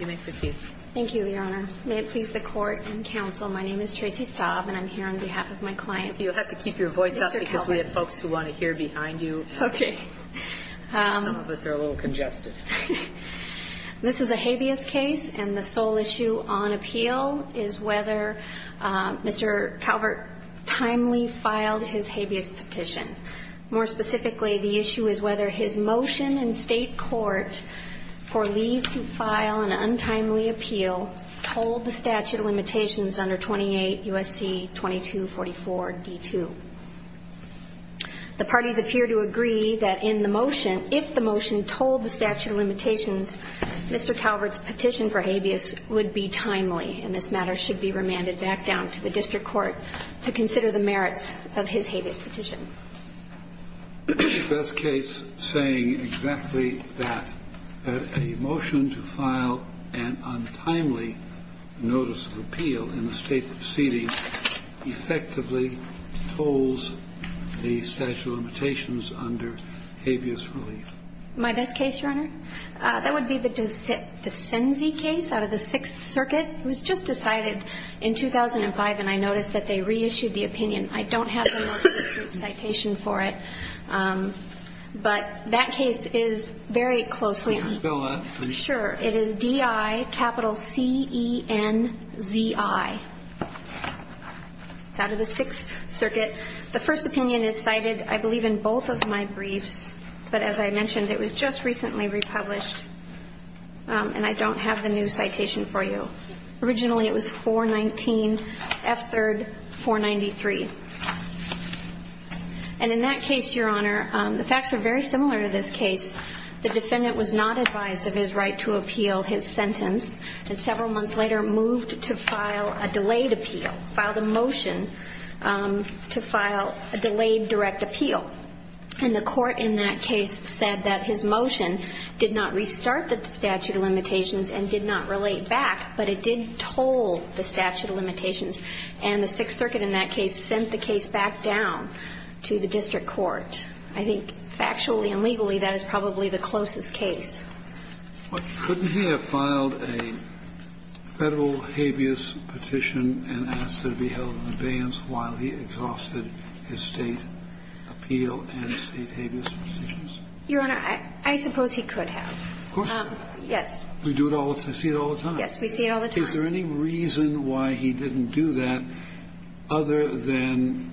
You may proceed. Thank you, Your Honor. May it please the Court and Counsel, my name is Tracy Staub and I'm here on behalf of my client, Mr. Calvert. You'll have to keep your voice up because we have folks who want to hear behind you. Okay. Some of us are a little congested. This is a habeas case and the sole issue on appeal is whether Mr. Calvert timely filed his habeas petition. More specifically, the issue is whether his motion in state court for leave to file an untimely appeal told the statute of limitations under 28 U.S.C. 2244-D2. The parties appear to agree that in the motion, if the motion told the statute of limitations, Mr. Calvert's petition for habeas would be timely and this matter should be remanded back down to the district court to consider the merits of his habeas petition. Is your best case saying exactly that, that a motion to file an untimely notice of appeal in the state proceeding effectively holds the statute of limitations under habeas relief? My best case, Your Honor, that would be the DeCenzi case out of the Sixth Circuit. It was just decided in 2005 and I noticed that they reissued the opinion. I don't have the citation for it, but that case is very closely. Can you spell that for me? Sure. It is D-I capital C-E-N-Z-I. It's out of the Sixth Circuit. The first opinion is cited, I believe, in both of my briefs, but as I mentioned, it was just recently republished and I don't have the new citation for you. Originally, it was 419 F3rd 493. And in that case, Your Honor, the facts are very similar to this case. The defendant was not advised of his right to appeal his sentence and several months later moved to file a delayed appeal, filed a motion to file a delayed direct appeal. And the court in that case said that his motion did not restart the statute of limitations and did not relate back, but it did toll the statute of limitations. And the Sixth Circuit in that case sent the case back down to the district court. I think factually and legally that is probably the closest case. Couldn't he have filed a federal habeas petition and asked it to be held in abeyance while he exhausted his state appeal and state habeas petitions? Your Honor, I suppose he could have. Of course he could. Yes. We do it all the time. I see it all the time. Yes, we see it all the time. Is there any reason why he didn't do that other than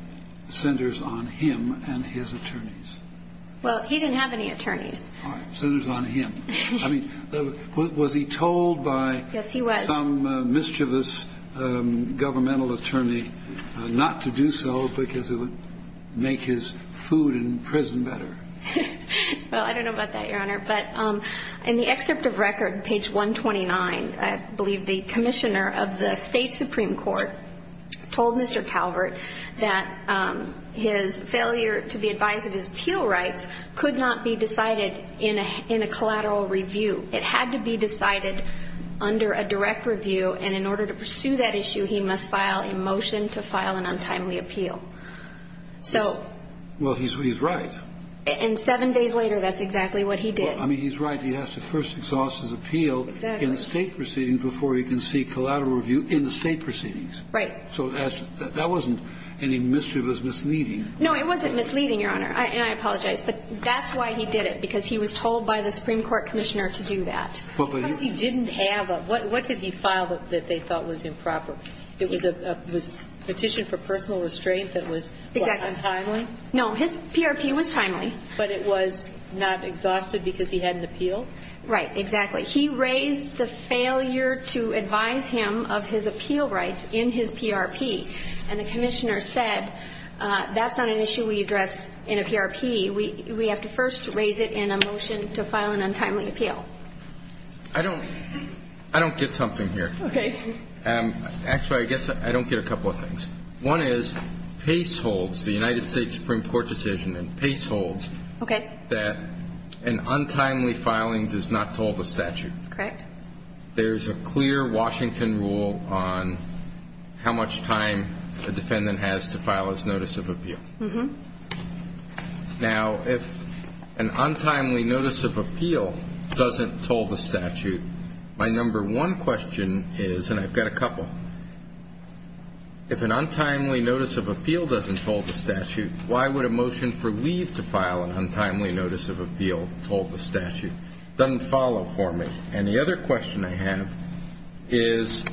centers on him and his attorneys? Well, he didn't have any attorneys. Centers on him. I mean, was he told by some mischievous governmental attorney not to do so because it would make his food in prison better? Well, I don't know about that, Your Honor. But in the excerpt of record, page 129, I believe the commissioner of the state supreme court told Mr. Calvert that his failure to be advised of his appeal rights could not be decided in a collateral review. It had to be decided under a direct review, and in order to pursue that issue, he must file a motion to file an untimely appeal. Well, he's right. And seven days later, that's exactly what he did. I mean, he's right. He has to first exhaust his appeal in the state proceedings before he can seek collateral review in the state proceedings. Right. So that wasn't any mischievous misleading. No, it wasn't misleading, Your Honor, and I apologize. But that's why he did it, because he was told by the supreme court commissioner to do that. Because he didn't have a what did he file that they thought was improper? Exactly. No, his PRP was timely. But it was not exhausted because he had an appeal? Right, exactly. He raised the failure to advise him of his appeal rights in his PRP, and the commissioner said that's not an issue we address in a PRP. We have to first raise it in a motion to file an untimely appeal. I don't get something here. Okay. Actually, I guess I don't get a couple of things. One is Pace holds, the United States Supreme Court decision, and Pace holds that an untimely filing does not toll the statute. Correct. There's a clear Washington rule on how much time a defendant has to file his notice of appeal. Mm-hmm. Now, if an untimely notice of appeal doesn't toll the statute, my number one question is, and I've got a couple, if an untimely notice of appeal doesn't toll the statute, why would a motion for leave to file an untimely notice of appeal toll the statute? It doesn't follow for me. And the other question I have is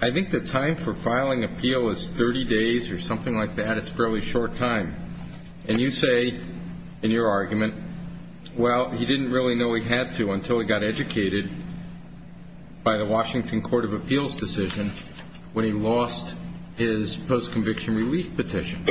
I think the time for filing appeal is 30 days or something like that. It's a fairly short time. And you say in your argument, well, he didn't really know he had to until he got educated by the Washington Court of Appeals decision when he lost his post-conviction relief petition.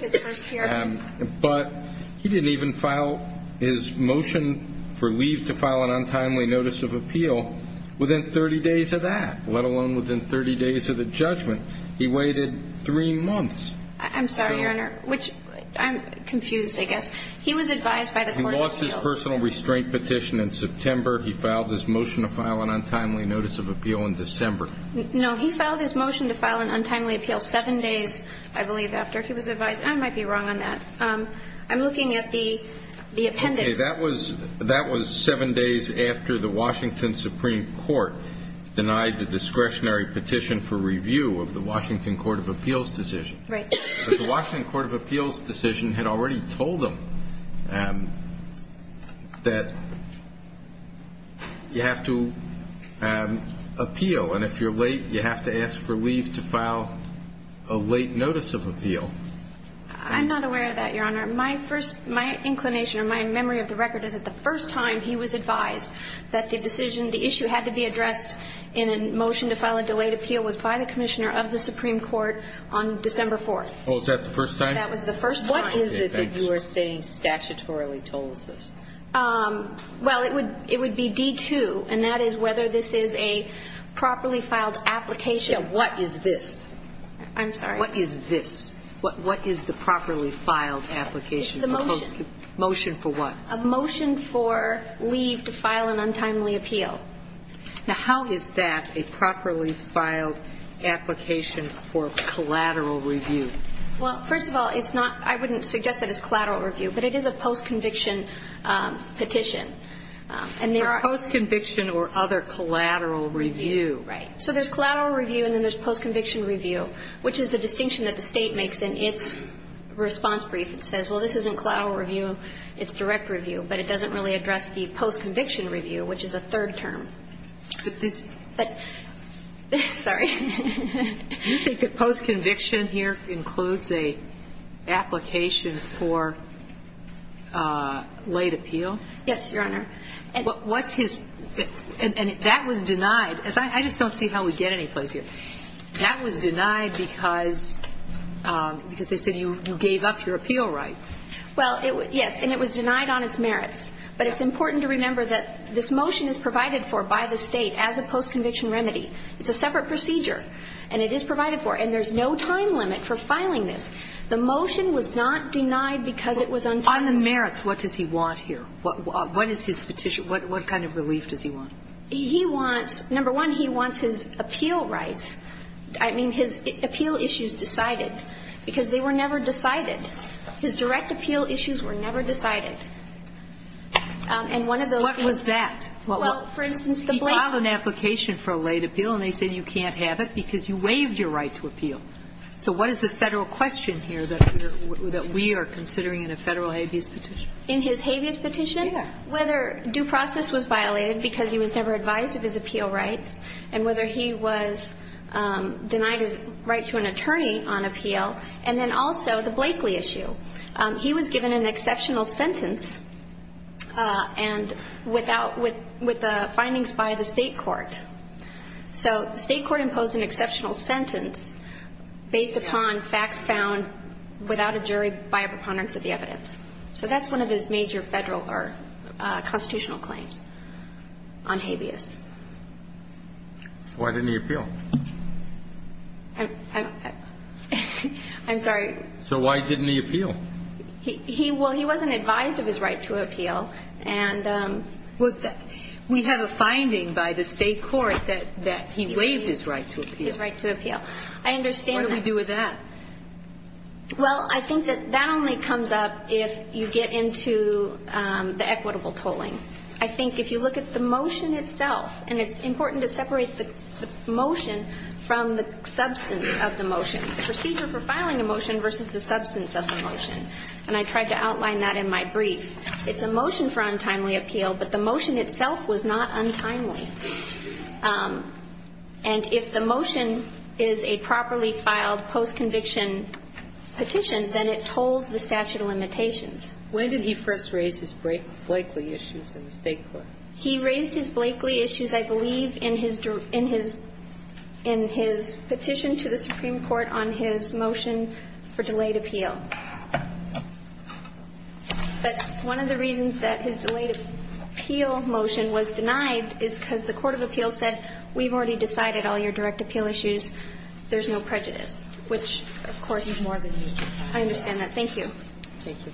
His first hearing. But he didn't even file his motion for leave to file an untimely notice of appeal within 30 days of that, let alone within 30 days of the judgment. He waited three months. I'm sorry, Your Honor, which I'm confused, I guess. He was advised by the Court of Appeals. He lost his personal restraint petition in September. He filed his motion to file an untimely notice of appeal in December. No, he filed his motion to file an untimely appeal seven days, I believe, after he was advised. I might be wrong on that. I'm looking at the appendix. Okay. That was seven days after the Washington Supreme Court denied the discretionary petition for review of the Washington Court of Appeals decision. Right. But the Washington Court of Appeals decision had already told him that you have to appeal. And if you're late, you have to ask for leave to file a late notice of appeal. I'm not aware of that, Your Honor. My first ñ my inclination or my memory of the record is that the first time he was advised that the decision, the issue had to be addressed in a motion to file a delayed appeal was by the commissioner of the Supreme Court on December 4th. Oh, is that the first time? That was the first time. What is it that you are saying statutorily tells us? Well, it would be D-2, and that is whether this is a properly filed application. What is this? I'm sorry. What is this? What is the properly filed application? It's the motion. Motion for what? A motion for leave to file an untimely appeal. Now, how is that a properly filed application for collateral review? Well, first of all, it's not ñ I wouldn't suggest that it's collateral review, but it is a post-conviction petition. For post-conviction or other collateral review. Right. So there's collateral review and then there's post-conviction review, which is a distinction that the State makes in its response brief. It says, well, this isn't collateral review, it's direct review, but it doesn't really address the post-conviction review, which is a third term. But this ñ But ñ sorry. Do you think that post-conviction here includes an application for late appeal? Yes, Your Honor. What's his ñ and that was denied. I just don't see how we get anyplace here. That was denied because they said you gave up your appeal rights. Well, yes, and it was denied on its merits. But it's important to remember that this motion is provided for by the State as a post-conviction remedy. It's a separate procedure, and it is provided for. And there's no time limit for filing this. The motion was not denied because it was untimely. On the merits, what does he want here? What is his petition? What kind of relief does he want? He wants ñ number one, he wants his appeal rights. I mean, his appeal issues decided, because they were never decided. His direct appeal issues were never decided. And one of those ñ What was that? Well, for instance, the blatant ñ He filed an application for a late appeal, and they said you can't have it because you waived your right to appeal. So what is the Federal question here that we are considering in a Federal habeas petition? In his habeas petition? Whether due process was violated because he was never advised of his appeal rights, and whether he was denied his right to an attorney on appeal. And then also the Blakeley issue. He was given an exceptional sentence, and without ñ with the findings by the State court. So the State court imposed an exceptional sentence based upon facts found without a jury by a preponderance of the evidence. So that's one of his major Federal or constitutional claims on habeas. Why didn't he appeal? I'm sorry. So why didn't he appeal? He ñ well, he wasn't advised of his right to appeal. And ñ We have a finding by the State court that he waived his right to appeal. His right to appeal. I understand that. What do we do with that? Well, I think that that only comes up if you get into the equitable tolling. I think if you look at the motion itself, and it's important to separate the motion from the substance of the motion. The procedure for filing a motion versus the substance of the motion. And I tried to outline that in my brief. It's a motion for untimely appeal, but the motion itself was not untimely. And if the motion is a properly filed post-conviction petition, then it tolls the statute of limitations. When did he first raise his Blakeley issues in the State court? He raised his Blakeley issues, I believe, in his petition to the Supreme Court on his motion for delayed appeal. But one of the reasons that his delayed appeal motion was denied is because the court of appeals said, we've already decided all your direct appeal issues, there's no prejudice. Which, of course, is more of an issue. I understand that. Thank you. Thank you.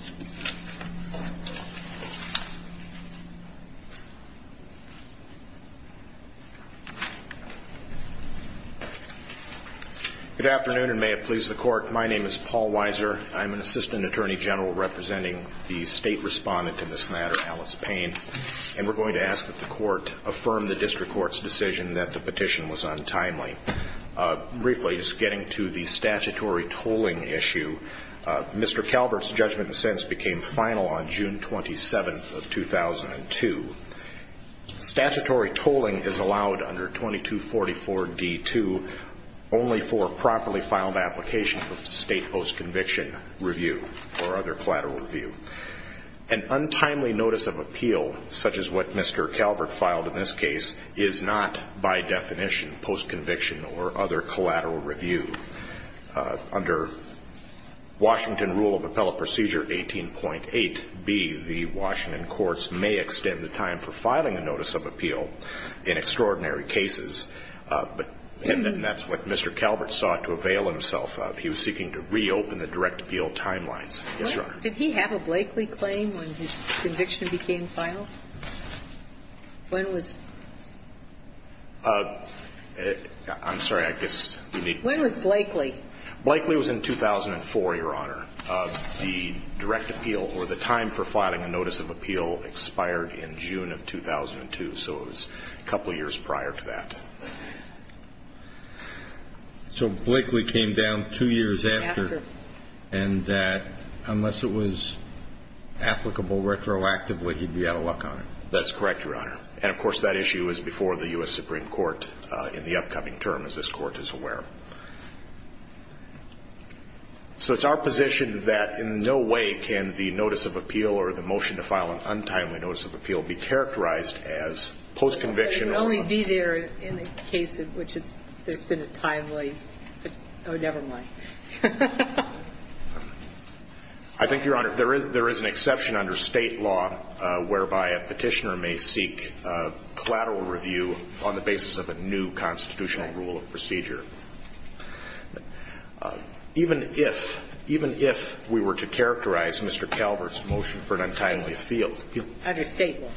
Good afternoon, and may it please the Court. My name is Paul Weiser. I'm an Assistant Attorney General representing the State Respondent in this matter, Alice Payne. And we're going to ask that the Court affirm the District Court's decision that the petition was untimely. Briefly, just getting to the statutory tolling issue, Mr. Calvert's judgment and sentence became final on June 27th of 2002. Statutory tolling is allowed under 2244D2 only for properly filed applications of State post-conviction review or other collateral review. An untimely notice of appeal, such as what Mr. Calvert filed in this case, is not, by definition, post-conviction or other collateral review. Under Washington Rule of Appellate Procedure 18.8b, the Washington courts may extend the time for filing a notice of appeal in extraordinary cases. And that's what Mr. Calvert sought to avail himself of. He was seeking to reopen the direct appeal timelines. Yes, Your Honor. Did he have a Blakely claim when his conviction became final? When was it? I'm sorry. When was Blakely? Blakely was in 2004, Your Honor. The direct appeal or the time for filing a notice of appeal expired in June of 2002. So it was a couple of years prior to that. So Blakely came down two years after. After. And that unless it was applicable retroactively, he'd be out of luck on it. That's correct, Your Honor. And, of course, that issue is before the U.S. Supreme Court in the upcoming term, as this Court is aware. So it's our position that in no way can the notice of appeal or the motion to file an untimely notice of appeal be characterized as post-conviction or other. It would only be there in a case in which it's been a timely. Oh, never mind. I think, Your Honor, there is an exception under State law whereby a Petitioner may seek collateral review on the basis of a new constitutional rule of procedure. Even if we were to characterize Mr. Calvert's motion for an untimely appeal. Under State law.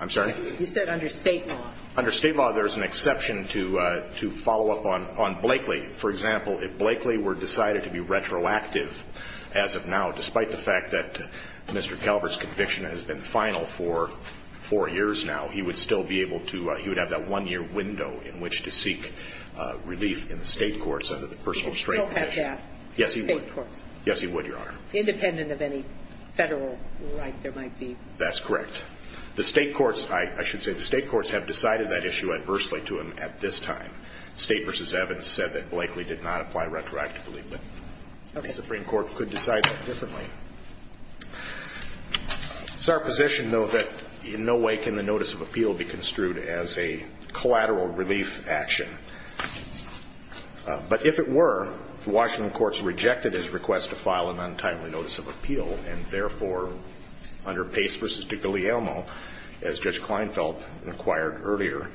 I'm sorry? You said under State law. Under State law, there is an exception to follow up on Blakely. For example, if Blakely were decided to be retroactive as of now, despite the fact that Mr. Calvert's conviction has been final for four years now, he would still be able to, he would have that one-year window in which to seek relief in the State courts under the personal restraint condition. He would still have that in the State courts? Yes, he would, Your Honor. Independent of any Federal right there might be? That's correct. The State courts, I should say, the State courts have decided that issue adversely to him at this time. State v. Evans said that Blakely did not apply retroactively, but the Supreme Court could decide that differently. It's our position, though, that in no way can the notice of appeal be construed as a collateral relief action. But if it were, the Washington courts rejected his request to file an untimely notice of appeal, and therefore, under Pace v. DiGuglielmo, as Judge Kleinfeld inquired earlier,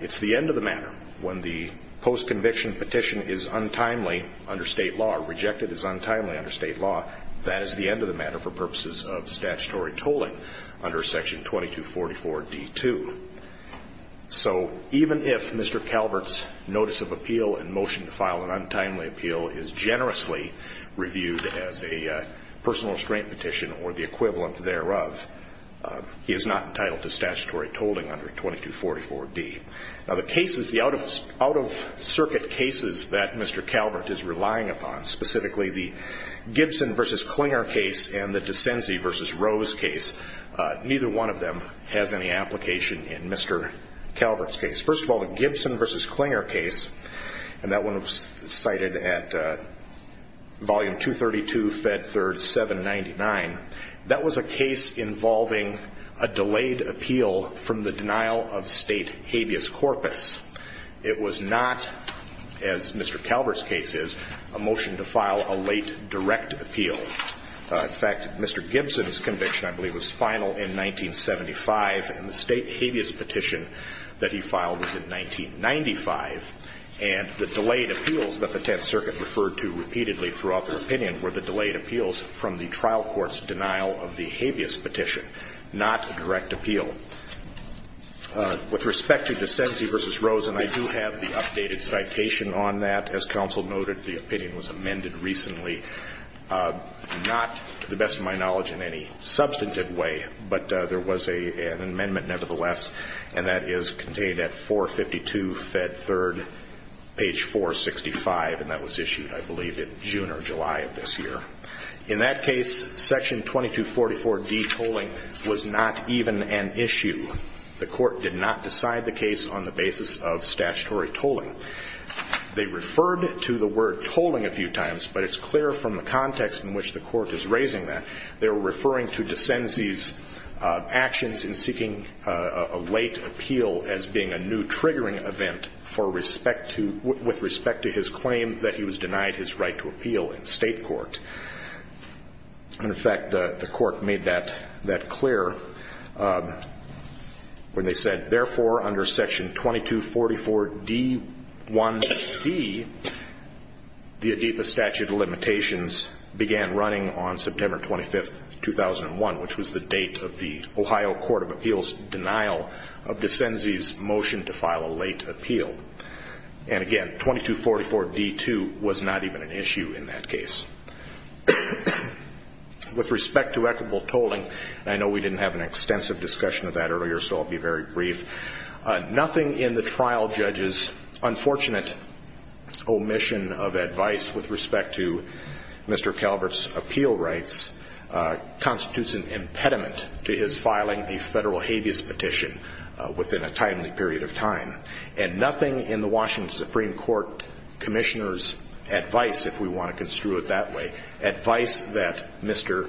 it's the end of the matter. When the post-conviction petition is untimely under State law or rejected as untimely under State law, that is the end of the matter for purposes of statutory tolling under Section 2244d-2. So even if Mr. Calvert's notice of appeal and motion to file an untimely appeal is generously reviewed as a personal restraint petition or the equivalent thereof, he is not entitled to statutory tolling under 2244d. Now, the cases, the out-of-circuit cases that Mr. Calvert is relying upon, specifically the Gibson v. Klinger case and the DeCenzi v. Rose case, neither one of them has any application in Mr. Calvert's case. First of all, the Gibson v. Klinger case, and that one was cited at Volume 232, Fed 3rd, 799, that was a case involving a delayed appeal from the denial of State habeas corpus. It was not, as Mr. Calvert's case is, a motion to file a late direct appeal. In fact, Mr. Gibson's conviction, I believe, was final in 1975, and the State habeas petition that he filed was in 1995. And the delayed appeals that the Tenth Circuit referred to repeatedly throughout their opinion were the delayed appeals from the trial court's denial of the habeas petition, not direct appeal. With respect to DeCenzi v. Rose, and I do have the updated citation on that. As counsel noted, the opinion was amended recently, not to the best of my knowledge in any substantive way, but there was an amendment nevertheless, and that is contained at 452, Fed 3rd, page 465, and that was issued, I believe, in June or July of this year. In that case, Section 2244D tolling was not even an issue. The Court did not decide the case on the basis of statutory tolling. They referred to the word tolling a few times, but it's clear from the context in which the Court is raising that. They were referring to DeCenzi's actions in seeking a late appeal as being a new triggering event for respect to his claim that he was denied his right to appeal in state court. And, in fact, the Court made that clear when they said, therefore, under Section 2244D1C, the ADIPA statute of limitations began running on September 25th, 2001, which was the date of the Ohio Court of Appeals' denial of DeCenzi's motion to file a late appeal. And, again, 2244D2 was not even an issue in that case. With respect to equitable tolling, and I know we didn't have an extensive discussion of that earlier, so I'll be very brief, nothing in the trial judge's unfortunate omission of advice with respect to Mr. Calvert's appeal rights constitutes an impediment to his filing And nothing in the Washington Supreme Court Commissioner's advice, if we want to construe it that way, advice that Mr.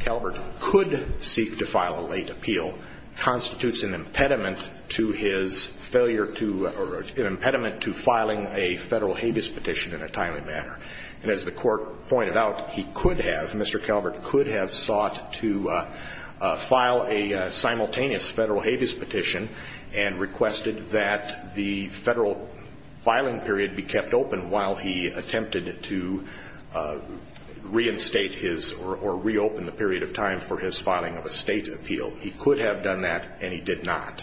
Calvert could seek to file a late appeal constitutes an impediment to his failure to or an impediment to filing a Federal habeas petition in a timely manner. And as the Court pointed out, he could have, Mr. Calvert could have, sought to file a simultaneous Federal habeas petition and requested that the Federal filing period be kept open while he attempted to reinstate his or reopen the period of time for his filing of a State appeal. He could have done that, and he did not.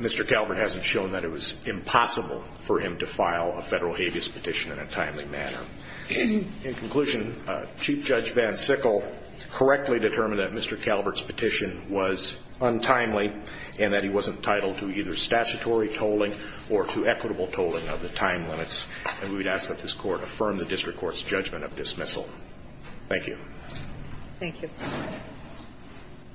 Mr. Calvert hasn't shown that it was impossible for him to file a Federal habeas petition in a timely manner. In conclusion, Chief Judge Van Sickle correctly determined that Mr. Calvert's petition was untimely and that he wasn't entitled to either statutory tolling or to equitable tolling of the time limits. And we would ask that this Court affirm the district court's judgment of dismissal. Thank you. Thank you.